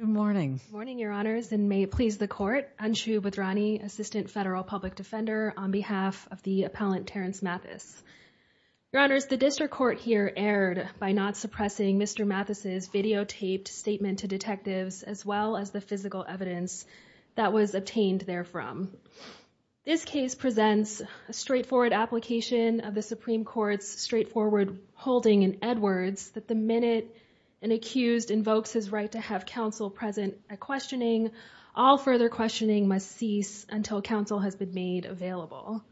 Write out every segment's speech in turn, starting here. Good morning, your honors, and may it please the court, Anshu Bhadrani, assistant federal public defender on behalf of the appellant Terrence Mathis. Your honors, the district court here erred by not suppressing Mr. Mathis's videotaped statement to detectives as well as the physical evidence that was obtained therefrom. This case presents a straightforward application of the Supreme Court's straightforward holding in Edwards that the minute an accused invokes his right to have counsel present at questioning, all further questioning must cease until counsel has been made available.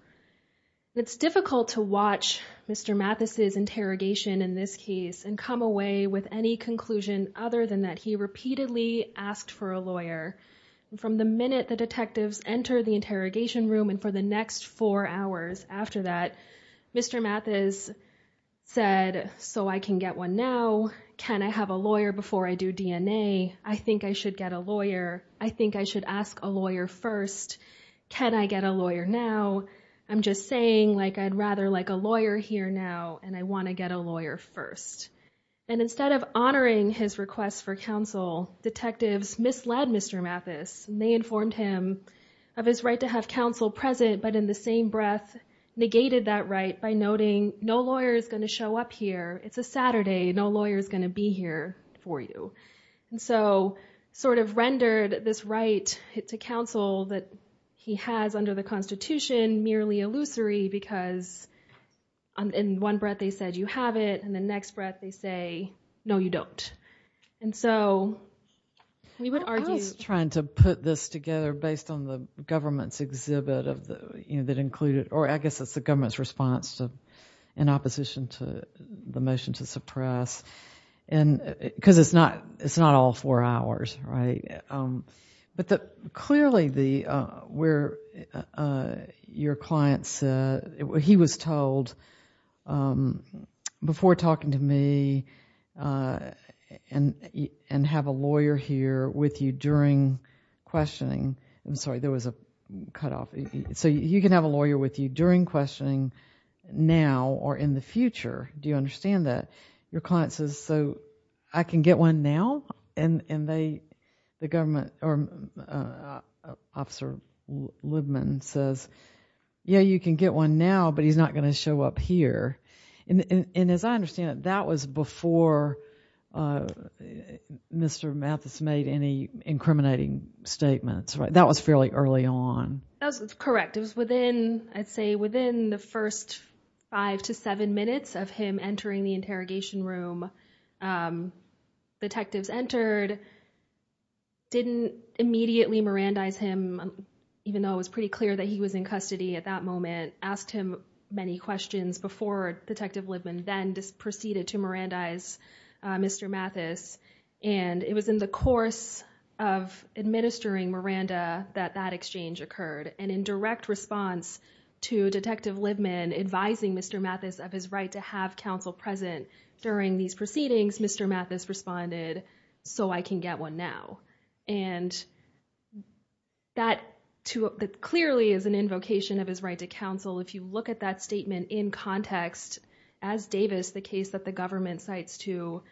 It's difficult to watch Mr. Mathis's interrogation in this case and come away with any conclusion other than that he repeatedly asked for a lawyer. From the minute the detectives enter the interrogation room and for the next four hours after that, Mr. Mathis said, so I can get one now. Can I have a lawyer before I do DNA? I think I should get a lawyer. I think I should ask a lawyer first. Can I get a lawyer now? I'm just saying like I'd rather like a lawyer here now and I want to get a lawyer first. And instead of honoring his request for counsel, detectives misled Mr. Mathis. They informed him of his right to have counsel present, but in the same breath negated that right by noting no lawyer is going to show up here. It's a Saturday. No lawyer is going to be here for you. And so sort of rendered this right to counsel that he has under the Constitution merely illusory because in one breath they said you have it and the next breath they say, no you don't. And so we would argue. I was trying to put this together based on the government's exhibit of the, you know, that included, or I guess it's the government's response to, in opposition to the motion to your client said, he was told before talking to me and have a lawyer here with you during questioning, I'm sorry there was a cut off, so you can have a lawyer with you during questioning now or in the future. Do you understand that? Your client says, so I can get one now? And they, the government, or Officer Libman says, yeah you can get one now, but he's not going to show up here. And as I understand it, that was before Mr. Mathis made any incriminating statements, right? That was fairly early on. That's correct. It was within, I'd say within the first five to seven minutes of him entering the interrogation room, detectives entered, didn't immediately Mirandize him, even though it was pretty clear that he was in custody at that moment, asked him many questions before Detective Libman then proceeded to Mirandize Mr. Mathis. And it was in the course of administering Miranda that that exchange occurred. And in direct response to Detective Libman advising Mr. Mathis of his right to have counsel present during these proceedings, Mr. Mathis responded, so I can get one now. And that too, that clearly is an invocation of his right to counsel. If you look at that statement in context, as Davis, the case that the government cites to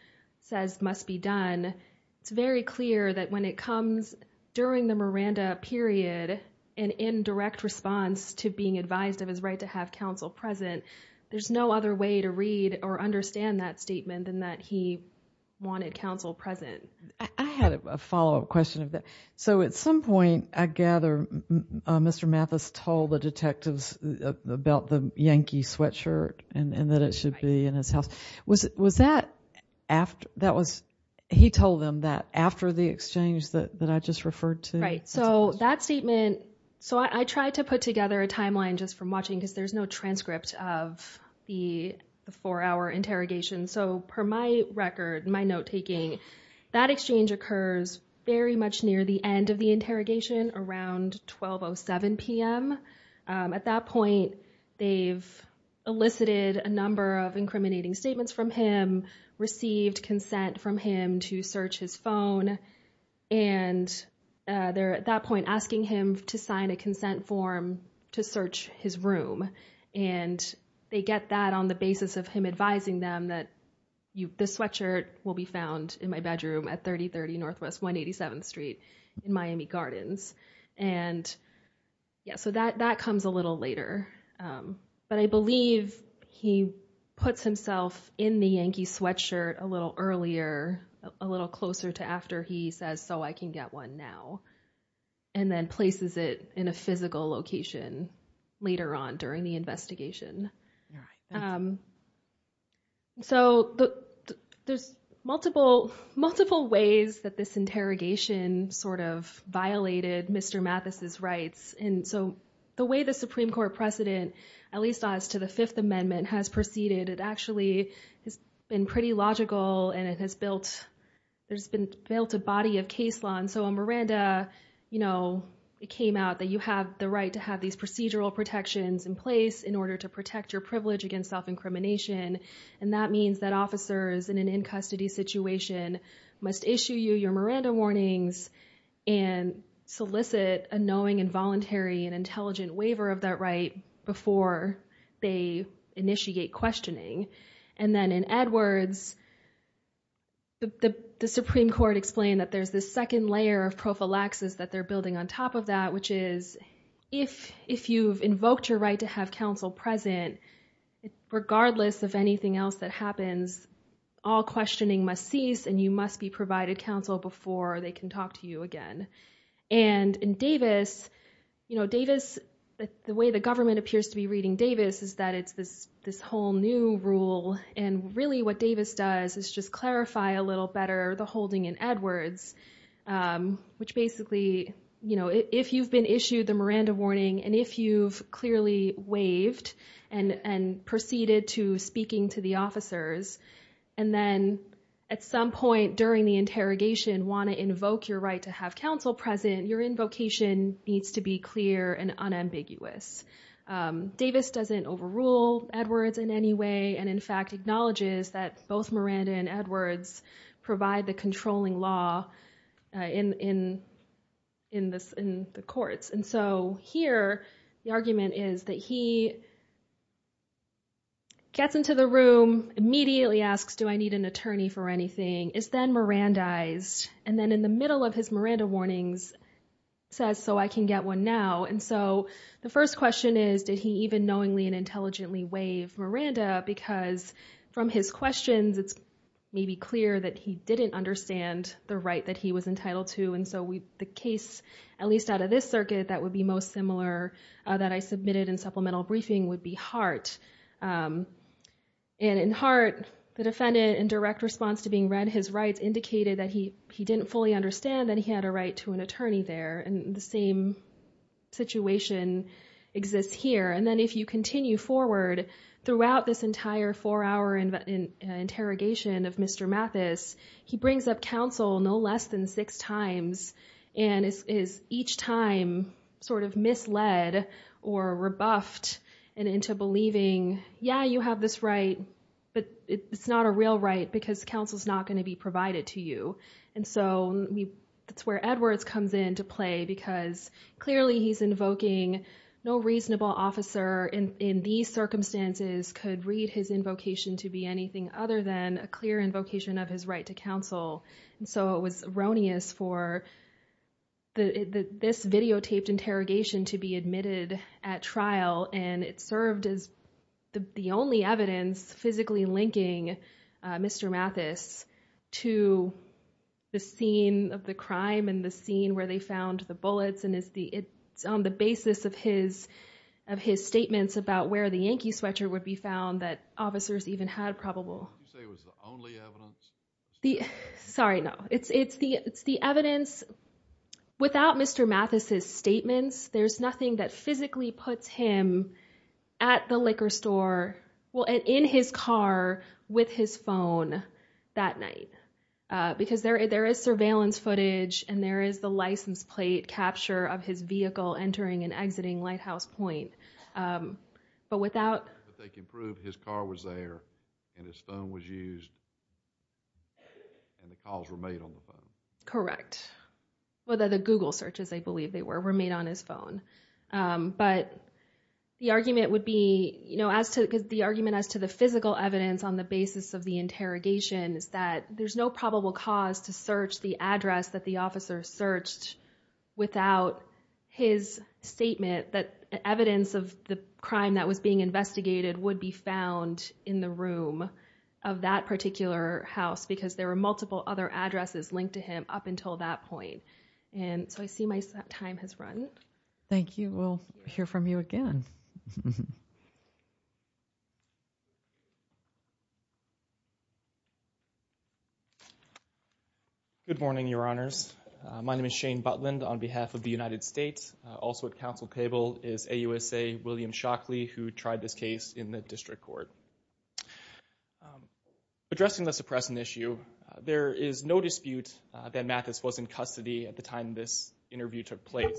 says must be done, it's very clear that when it comes during the Miranda period and in direct response to being advised of his right to have counsel present, there's no other way to read or understand that statement than that he wanted counsel present. I had a follow-up question of that. So at some point, I gather Mr. Mathis told the detectives about the Yankee sweatshirt and that it should be in his house. Was that after, that was, he told them that after the exchange that I just referred to? Right. So that statement, so I tried to put together a timeline just from watching because there's no transcript of the four-hour interrogation. So per my record, my note-taking, that exchange occurs very much near the end of the interrogation around 12.07 p.m. At that point, they've elicited a number of incriminating statements from him, received consent from him to search his at that point, asking him to sign a consent form to search his room. And they get that on the basis of him advising them that the sweatshirt will be found in my bedroom at 3030 Northwest 187th Street in Miami Gardens. And yeah, so that comes a little later. But I believe he puts himself in the Yankee sweatshirt a little earlier, a little closer to after he says, so I can get one now. And then places it in a physical location later on during the investigation. So there's multiple, multiple ways that this interrogation sort of violated Mr. Mathis's rights. And so the way the Supreme Court precedent, at least as to the Fifth Amendment, has proceeded, it actually has been pretty logical and it has built, there's been built a body of case law. And so on Miranda, you know, it came out that you have the right to have these procedural protections in place in order to protect your privilege against self-incrimination. And that means that officers in an in-custody situation must issue you your Miranda warnings and solicit a knowing and voluntary and intelligent waiver of that right before they initiate questioning. And then in other words, the Supreme Court explained that there's this second layer of prophylaxis that they're building on top of that, which is if you've invoked your right to have counsel present, regardless of anything else that happens, all questioning must cease and you must be provided counsel before they can talk to you again. And in Davis, you know, Davis, the way the government what Davis does is just clarify a little better the holding in Edwards, which basically, you know, if you've been issued the Miranda warning and if you've clearly waived and proceeded to speaking to the officers, and then at some point during the interrogation want to invoke your right to have counsel present, your invocation needs to be clear and unambiguous. Davis doesn't overrule Edwards in any way, and in fact acknowledges that both Miranda and Edwards provide the controlling law in the courts. And so here, the argument is that he gets into the room, immediately asks, do I need an attorney for anything, is then Mirandized, and then in the middle of his Miranda warnings says, so I can get one now. And so the first question is, did he even knowingly and waive Miranda, because from his questions, it's maybe clear that he didn't understand the right that he was entitled to. And so we, the case, at least out of this circuit, that would be most similar that I submitted in supplemental briefing would be Hart. And in Hart, the defendant in direct response to being read his rights indicated that he he didn't fully understand that he had a right to an attorney there, and the same situation exists here. And then if you continue forward throughout this entire four-hour interrogation of Mr. Mathis, he brings up counsel no less than six times and is each time sort of misled or rebuffed and into believing, yeah, you have this right, but it's not a real right because counsel is not going to be provided to you. And so that's where Edwards comes into play because clearly he's invoking no reasonable officer in these circumstances could read his invocation to be anything other than a clear invocation of his right to counsel. And so it was erroneous for this videotaped interrogation to be admitted at trial, and it served as the only evidence physically linking Mr. Mathis to the scene of the crime and the scene where they found the bullets. And it's on the basis of his statements about where the Yankee sweatshirt would be found that officers even had probable. Sorry, no. It's the evidence, without Mr. Mathis's statements, there's nothing that physically puts him at the liquor store, well, in his car with his phone that night because there is surveillance footage and there is the license plate capture of his vehicle entering and exiting Lighthouse Point. But without that, they can prove his car was there and his phone was used and the calls were made on the phone. Correct. Well, the Google searches, I believe they were made on his phone. But the argument would be, you know, as to the argument as to the physical evidence on the basis of the interrogation is that there's no probable cause to search the address that the officer searched without his statement that evidence of the crime that was being investigated would be found in the room of that particular house because there were multiple other addresses linked to him up until that point. And so I see my time has run. Thank you. We'll hear from you again. Good morning, Your Honors. My name is Shane Butland on behalf of the United States. Also at counsel table is AUSA William Shockley, who tried this case in the district court. Addressing the suppressant issue, there is no dispute that Mathis was in custody at the time this interview took place,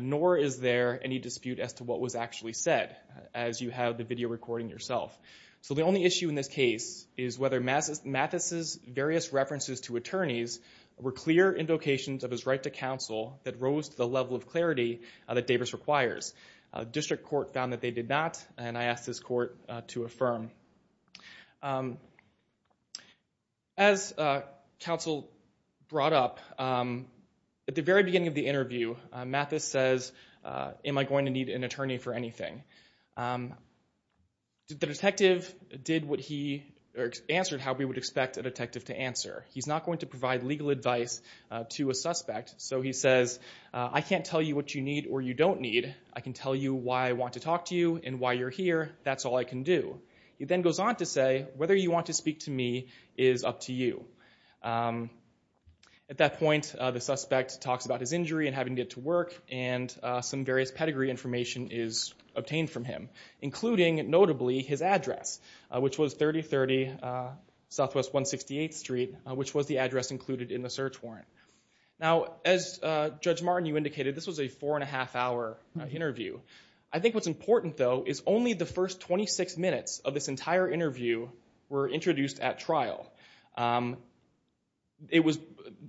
nor is there any dispute as to what was actually said, as you have the video recording yourself. So the only issue in this case is whether Mathis's various references to attorneys were clear indications of his right to counsel that rose to the level of clarity that Davis requires. A district court found that they did not, and I asked this court to affirm. As counsel brought up at the very beginning of the interview, Mathis says, am I going to need an attorney for anything? The detective did what he answered how we would expect a detective to answer. He's not going to provide legal advice to a suspect. So he says, I can't tell you what you need or you don't need. I can tell you why I want to talk to you and why you're here. That's all I can do. He then goes on to say, whether you want to speak to me is up to you. At that point, the suspect talks about his injury and having to get to work, and some various pedigree information is obtained from him, including, notably, his address, which was 3030 Southwest 168th Street, which was the address included in the search warrant. Now, as Judge Martin, you indicated, this was a four and a half hour interview. I think what's important, though, is only the first 26 minutes of this interview were introduced at trial.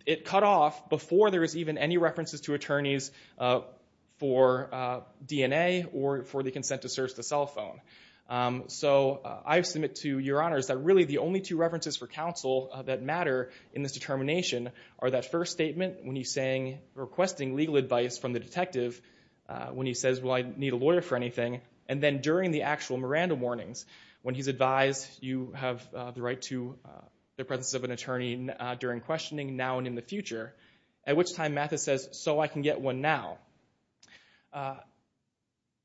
It cut off before there was even any references to attorneys for DNA or for the consent to search the cell phone. So I submit to your honors that really the only two references for counsel that matter in this determination are that first statement when he's requesting legal advice from the detective, when he says, well, I need a lawyer for anything, and then during the actual Miranda warnings, when he's advised you have the right to the presence of an attorney during questioning now and in the future, at which time Mathis says, so I can get one now.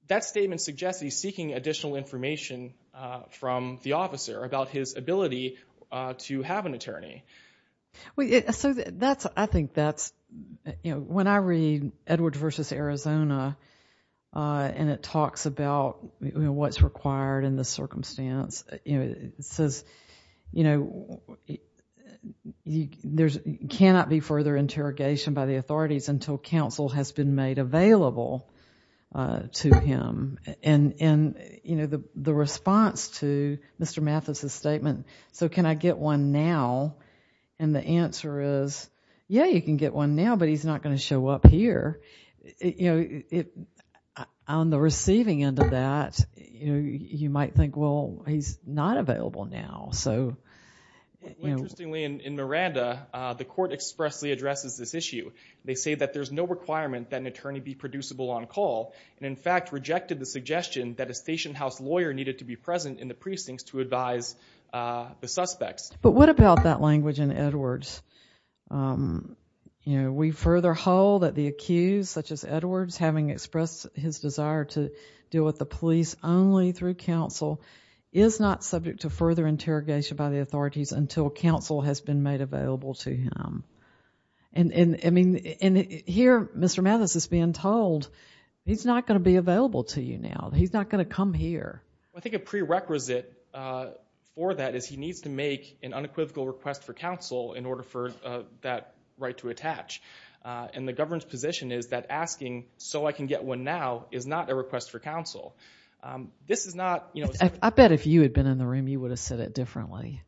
That statement suggests he's seeking additional information from the officer about his ability to have an attorney. Well, so that's, I think that's, you know, when I read Edwards versus Arizona and it talks about what's required in the circumstance, you know, it says, you know, there's cannot be further interrogation by the authorities until counsel has been made available to him. And, you know, the response to Mr. Mathis' statement, so can I get one now? And the answer is, yeah, you can get one now, but he's not going to show up here. You know, on the receiving end of that, you might think, well, he's not available now. So, you know. Interestingly, in Miranda, the court expressly addresses this issue. They say that there's no requirement that an attorney be producible on call and, in fact, rejected the suggestion that a patient house lawyer needed to be present in the precincts to advise the suspects. But what about that language in Edwards? You know, we further hold that the accused, such as Edwards, having expressed his desire to deal with the police only through counsel, is not subject to further interrogation by the authorities until counsel has been made available to him. And, I mean, here Mr. Mathis is being told, he's not going to be available to you now. He's not going to come here. I think a prerequisite for that is he needs to make an unequivocal request for counsel in order for that right to attach. And the government's position is that asking, so I can get one now, is not a request for counsel. This is not, you know. I bet if you had been in the room, you would have said it differently.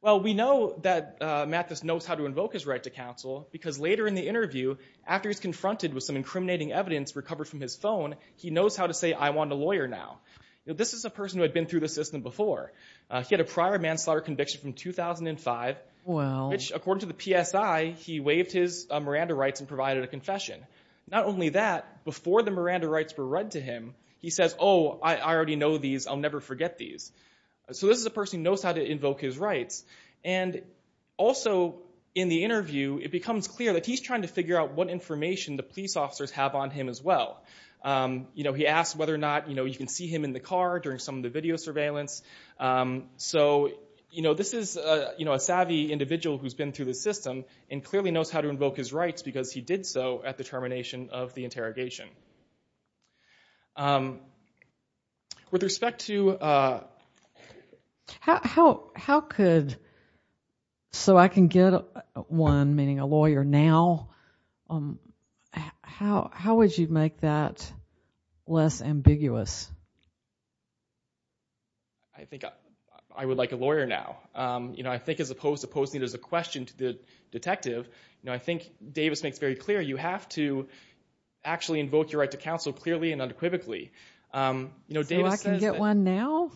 Well, we know that Mathis knows how to invoke his right to counsel because later in the interview, after he's confronted with some incriminating evidence recovered from his phone, he knows how to say, I want a lawyer now. This is a person who had been through the system before. He had a prior manslaughter conviction from 2005, which, according to the PSI, he waived his Miranda rights and provided a confession. Not only that, before the Miranda rights were read to him, he says, oh, I already know these. I'll never forget these. So this is a person who knows how to invoke his rights. And also, in the interview, it becomes clear that he's trying to figure out what information the police officers have on him as well. He asks whether or not you can see him in the car during some of the video surveillance. So this is a savvy individual who's been through the system and clearly knows how to invoke his rights because he did so at the termination of the interrogation. With respect to how could, so I can get one, meaning a lawyer now, how would you make that less ambiguous? I think I would like a lawyer now. You know, I think as opposed to posing it as a question to the detective, you know, I think Davis makes very clear you have to actually invoke your rights to counsel clearly and unequivocally. So I can get one now?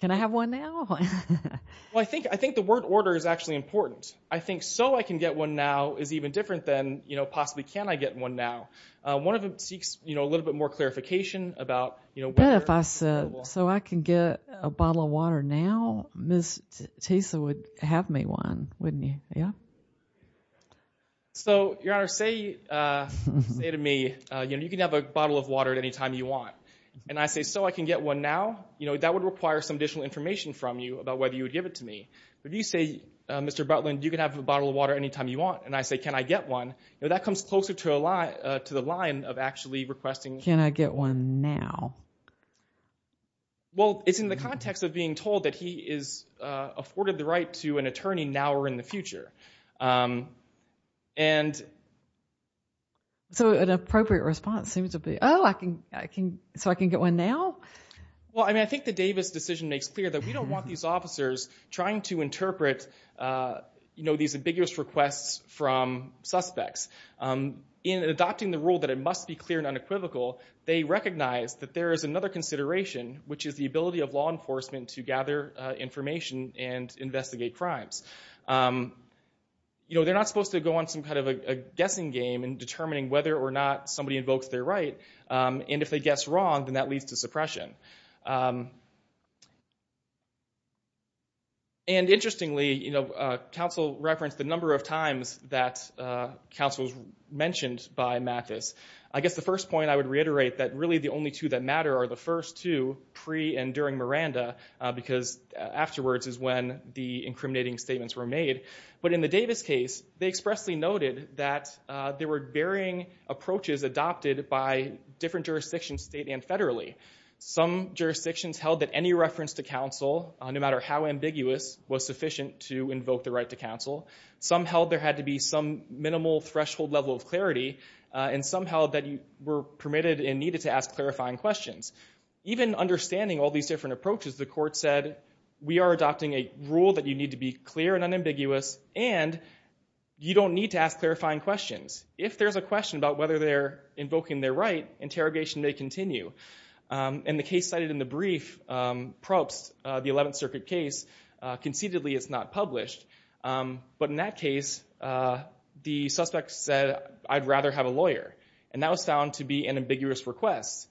Can I have one now? Well, I think the word order is actually important. I think so I can get one now is even different than possibly can I get one now. One of them seeks a little bit more clarification. So I can get a bottle of water now? Ms. Tisa would have me one, wouldn't you? Yeah. So, Your Honor, say to me, you know, you can have a bottle of water at any time you want. And I say, so I can get one now? You know, that would require some additional information from you about whether you would give it to me. If you say, Mr. Butler, you can have a bottle of water anytime you want. And I say, can I get one? That comes closer to the line of actually requesting. Can I get one now? Well, it's in the context of being told that he is afforded the authority of an attorney now or in the future. So an appropriate response seems to be, oh, so I can get one now? Well, I mean, I think the Davis decision makes clear that we don't want these officers trying to interpret, you know, these ambiguous requests from suspects. In adopting the rule that it must be clear and unequivocal, they recognize that there is another consideration, which is the ability of law enforcement to gather information and investigate crimes. You know, they're not supposed to go on some kind of a guessing game in determining whether or not somebody invokes their right. And if they guess wrong, then that leads to suppression. And interestingly, you know, counsel referenced the number of times that counsel was mentioned by Mathis. I guess the first point I would reiterate that really the only two that matter are the first two, pre and during Miranda, because afterwards is when the incriminating statements were made. But in the Davis case, they expressly noted that there were varying approaches adopted by different jurisdictions, state and federally. Some jurisdictions held that any reference to counsel, no matter how ambiguous, was sufficient to invoke the right to counsel. Some held there had to be some minimal threshold level of clarity. And some held that you were to ask clarifying questions. Even understanding all these different approaches, the court said, we are adopting a rule that you need to be clear and unambiguous, and you don't need to ask clarifying questions. If there's a question about whether they're invoking their right, interrogation may continue. And the case cited in the brief, Probst, the 11th Circuit case, conceitedly it's not published. But in that case, the suspect said, I'd rather have a lawyer. And that was found to be an ambiguous request,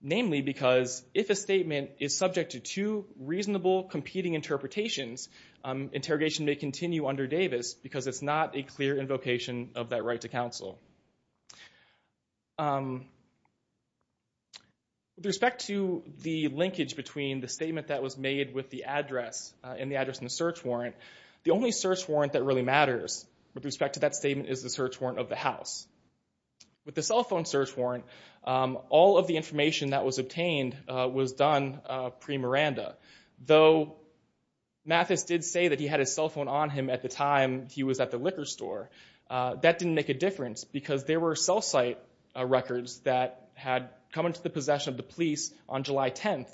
namely because if a statement is subject to two reasonable competing interpretations, interrogation may continue under Davis, because it's not a clear invocation of that right to counsel. With respect to the linkage between the statement that was made with the address and the address in the search warrant, the only search warrant that really matters with respect to that statement is the search warrant of the house. With the cell phone search warrant, all of the information that was obtained was done pre-Miranda. Though Mathis did say that he had his cell phone on him at the time he was at the liquor store. That didn't make a difference, because there were cell site records that had come into the possession of the police on July 10th,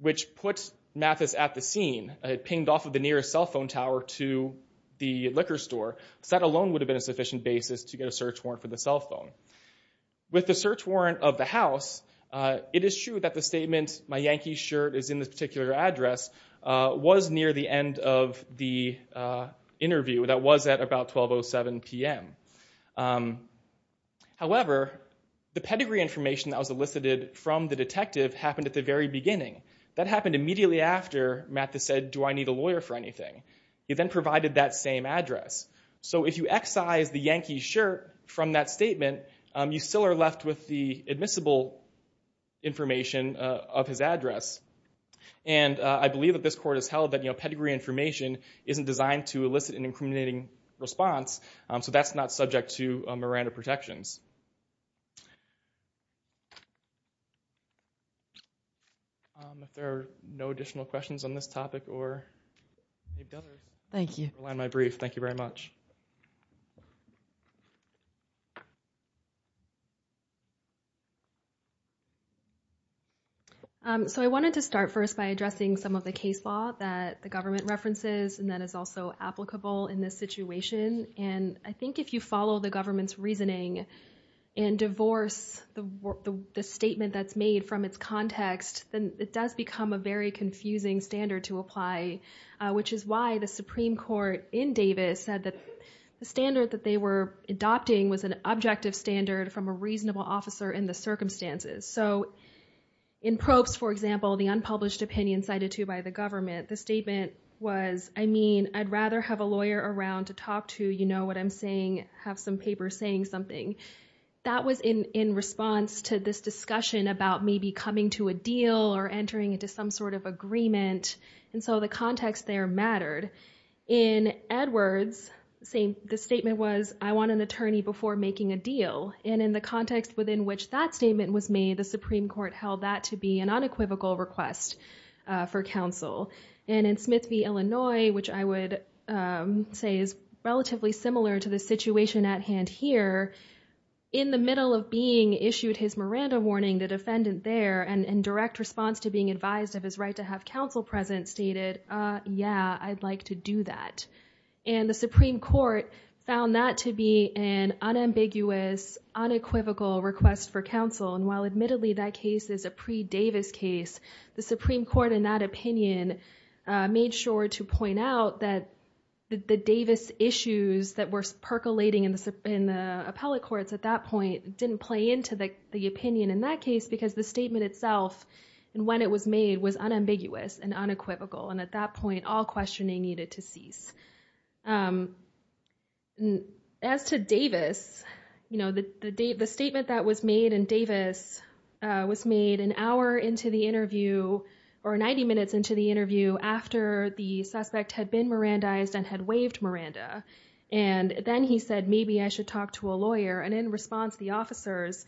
which puts Mathis at the scene. It pinged off of the nearest cell phone tower to the liquor store. That alone would have been a sufficient basis to get a search warrant for the cell phone. With the search warrant of the house, it is true that the statement, my Yankees shirt is in this particular address, was near the end of the interview. That was at about 12.07 PM. However, the pedigree information that was elicited from the detective happened at the very beginning. That happened immediately after Mathis said, do I need a lawyer for anything? He then provided that same address. If you excise the Yankees shirt from that statement, you still are left with the admissible information of his address. I believe that this court has held that pedigree information isn't designed to elicit an incriminating response, so that's not subject to Miranda additional questions on this topic. Thank you very much. So I wanted to start first by addressing some of the case law that the government references and that is also applicable in this situation. I think if you follow the government's reasoning and divorce the statement that's made from its context, then it does become a very confusing standard to apply, which is why the Supreme Court in Davis said that the standard that they were adopting was an objective standard from a reasonable officer in the circumstances. So in Probst, for example, the unpublished opinion cited to by the government, the statement was, I mean, I'd rather have a lawyer around to talk to, you know what I'm saying, have some paper saying something. That was in response to this discussion about maybe coming to a deal or entering into some sort of agreement. And so the context there mattered. In Edwards, the statement was, I want an attorney before making a deal. And in the context within which that statement was made, the Supreme Court held that to be an unequivocal request for counsel. And in Smith v. Illinois, which I would say is relatively similar to the situation at hand here, in the middle of being issued his Miranda warning, the defendant there, and in direct response to being advised of his right to have counsel present stated, yeah, I'd like to do that. And the Supreme Court found that to be an unambiguous, unequivocal request for counsel. And while admittedly that case is a pre-Davis case, the Supreme Court in that opinion made sure to point out that the Davis issues that were percolating in the appellate courts at that point didn't play into the opinion in that case because the statement itself, and when it was made, was unambiguous and unequivocal. And at that point, all questioning needed to cease. As to Davis, you know, the statement that was made in Davis was made an hour into the interview, or 90 minutes into the interview, after the suspect had been Mirandized and had waived Miranda. And then he said, maybe I should talk to a lawyer. And in response, the officers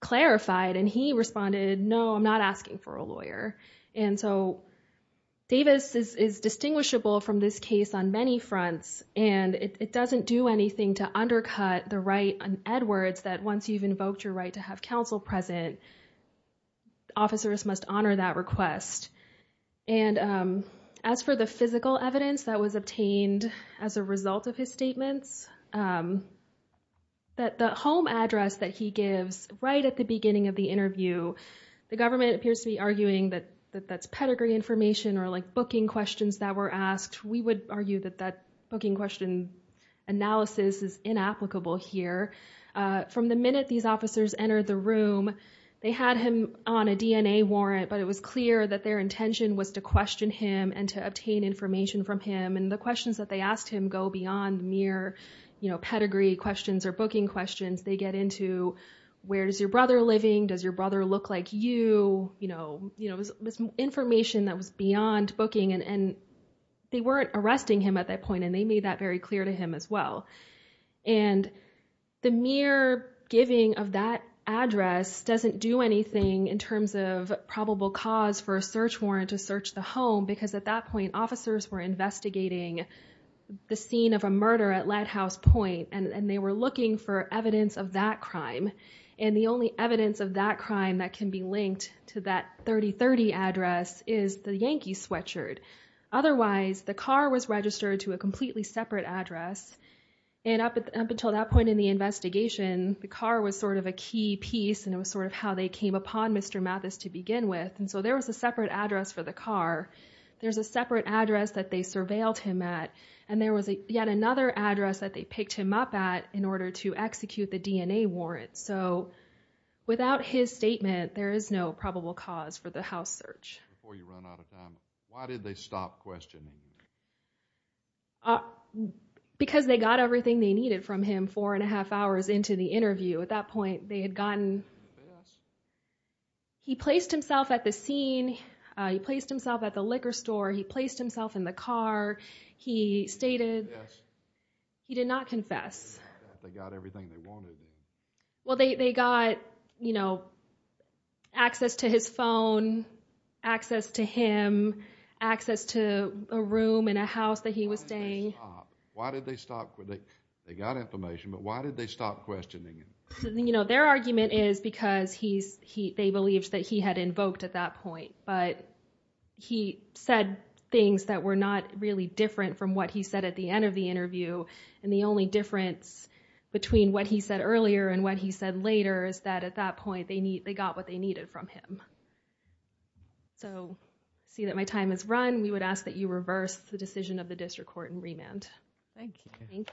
clarified, and he responded, no, I'm not asking for a lawyer. And so Davis is distinguishable from this case on many fronts, and it doesn't do anything to make the case more present. Officers must honor that request. And as for the physical evidence that was obtained as a result of his statements, that the home address that he gives right at the beginning of the interview, the government appears to be arguing that that's pedigree information, or like booking questions that were asked. We would argue that that booking question analysis is inapplicable here. From the minute these officers entered the room, they had him on a DNA warrant, but it was clear that their intention was to question him and to obtain information from him. And the questions that they asked him go beyond mere, you know, pedigree questions or booking questions. They get into, where is your brother living? Does your brother look like you? You know, you know, this information that was beyond booking, and they weren't arresting him at that point, and they made that very clear to him as well. And the mere giving of that address doesn't do anything in terms of probable cause for a search warrant to search the home, because at that point, officers were investigating the scene of a murder at Lathouse Point, and they were looking for evidence of that crime. And the only evidence of that crime that can be linked to that 3030 address is the Yankee sweatshirt. Otherwise, the car was registered to a completely separate address. And up until that point in the investigation, the car was sort of a key piece, and it was sort of how they came upon Mr. Mathis to begin with. And so there was a separate address for the car. There's a separate address that they surveilled him at. And there was yet another address that they picked him up at in order to execute the statement, there is no probable cause for the house search. Before you run out of time, why did they stop questioning? Because they got everything they needed from him four and a half hours into the interview. At that point, they had gotten. He placed himself at the scene. He placed himself at the liquor store. He placed himself in the car. He stated he did not confess. They got everything they wanted. Well, they got, you know, access to his phone, access to him, access to a room in a house that he was staying. Why did they stop? They got information, but why did they stop questioning him? Their argument is because they believed that he had invoked at that point, but he said things that were not really different from what he said at the end of the interview. And the only difference between what he said earlier and what he said later is that at that point they got what they needed from him. So I see that my time has run. We would ask that you reverse the decision of the district court and remand. Thank you. Thank you.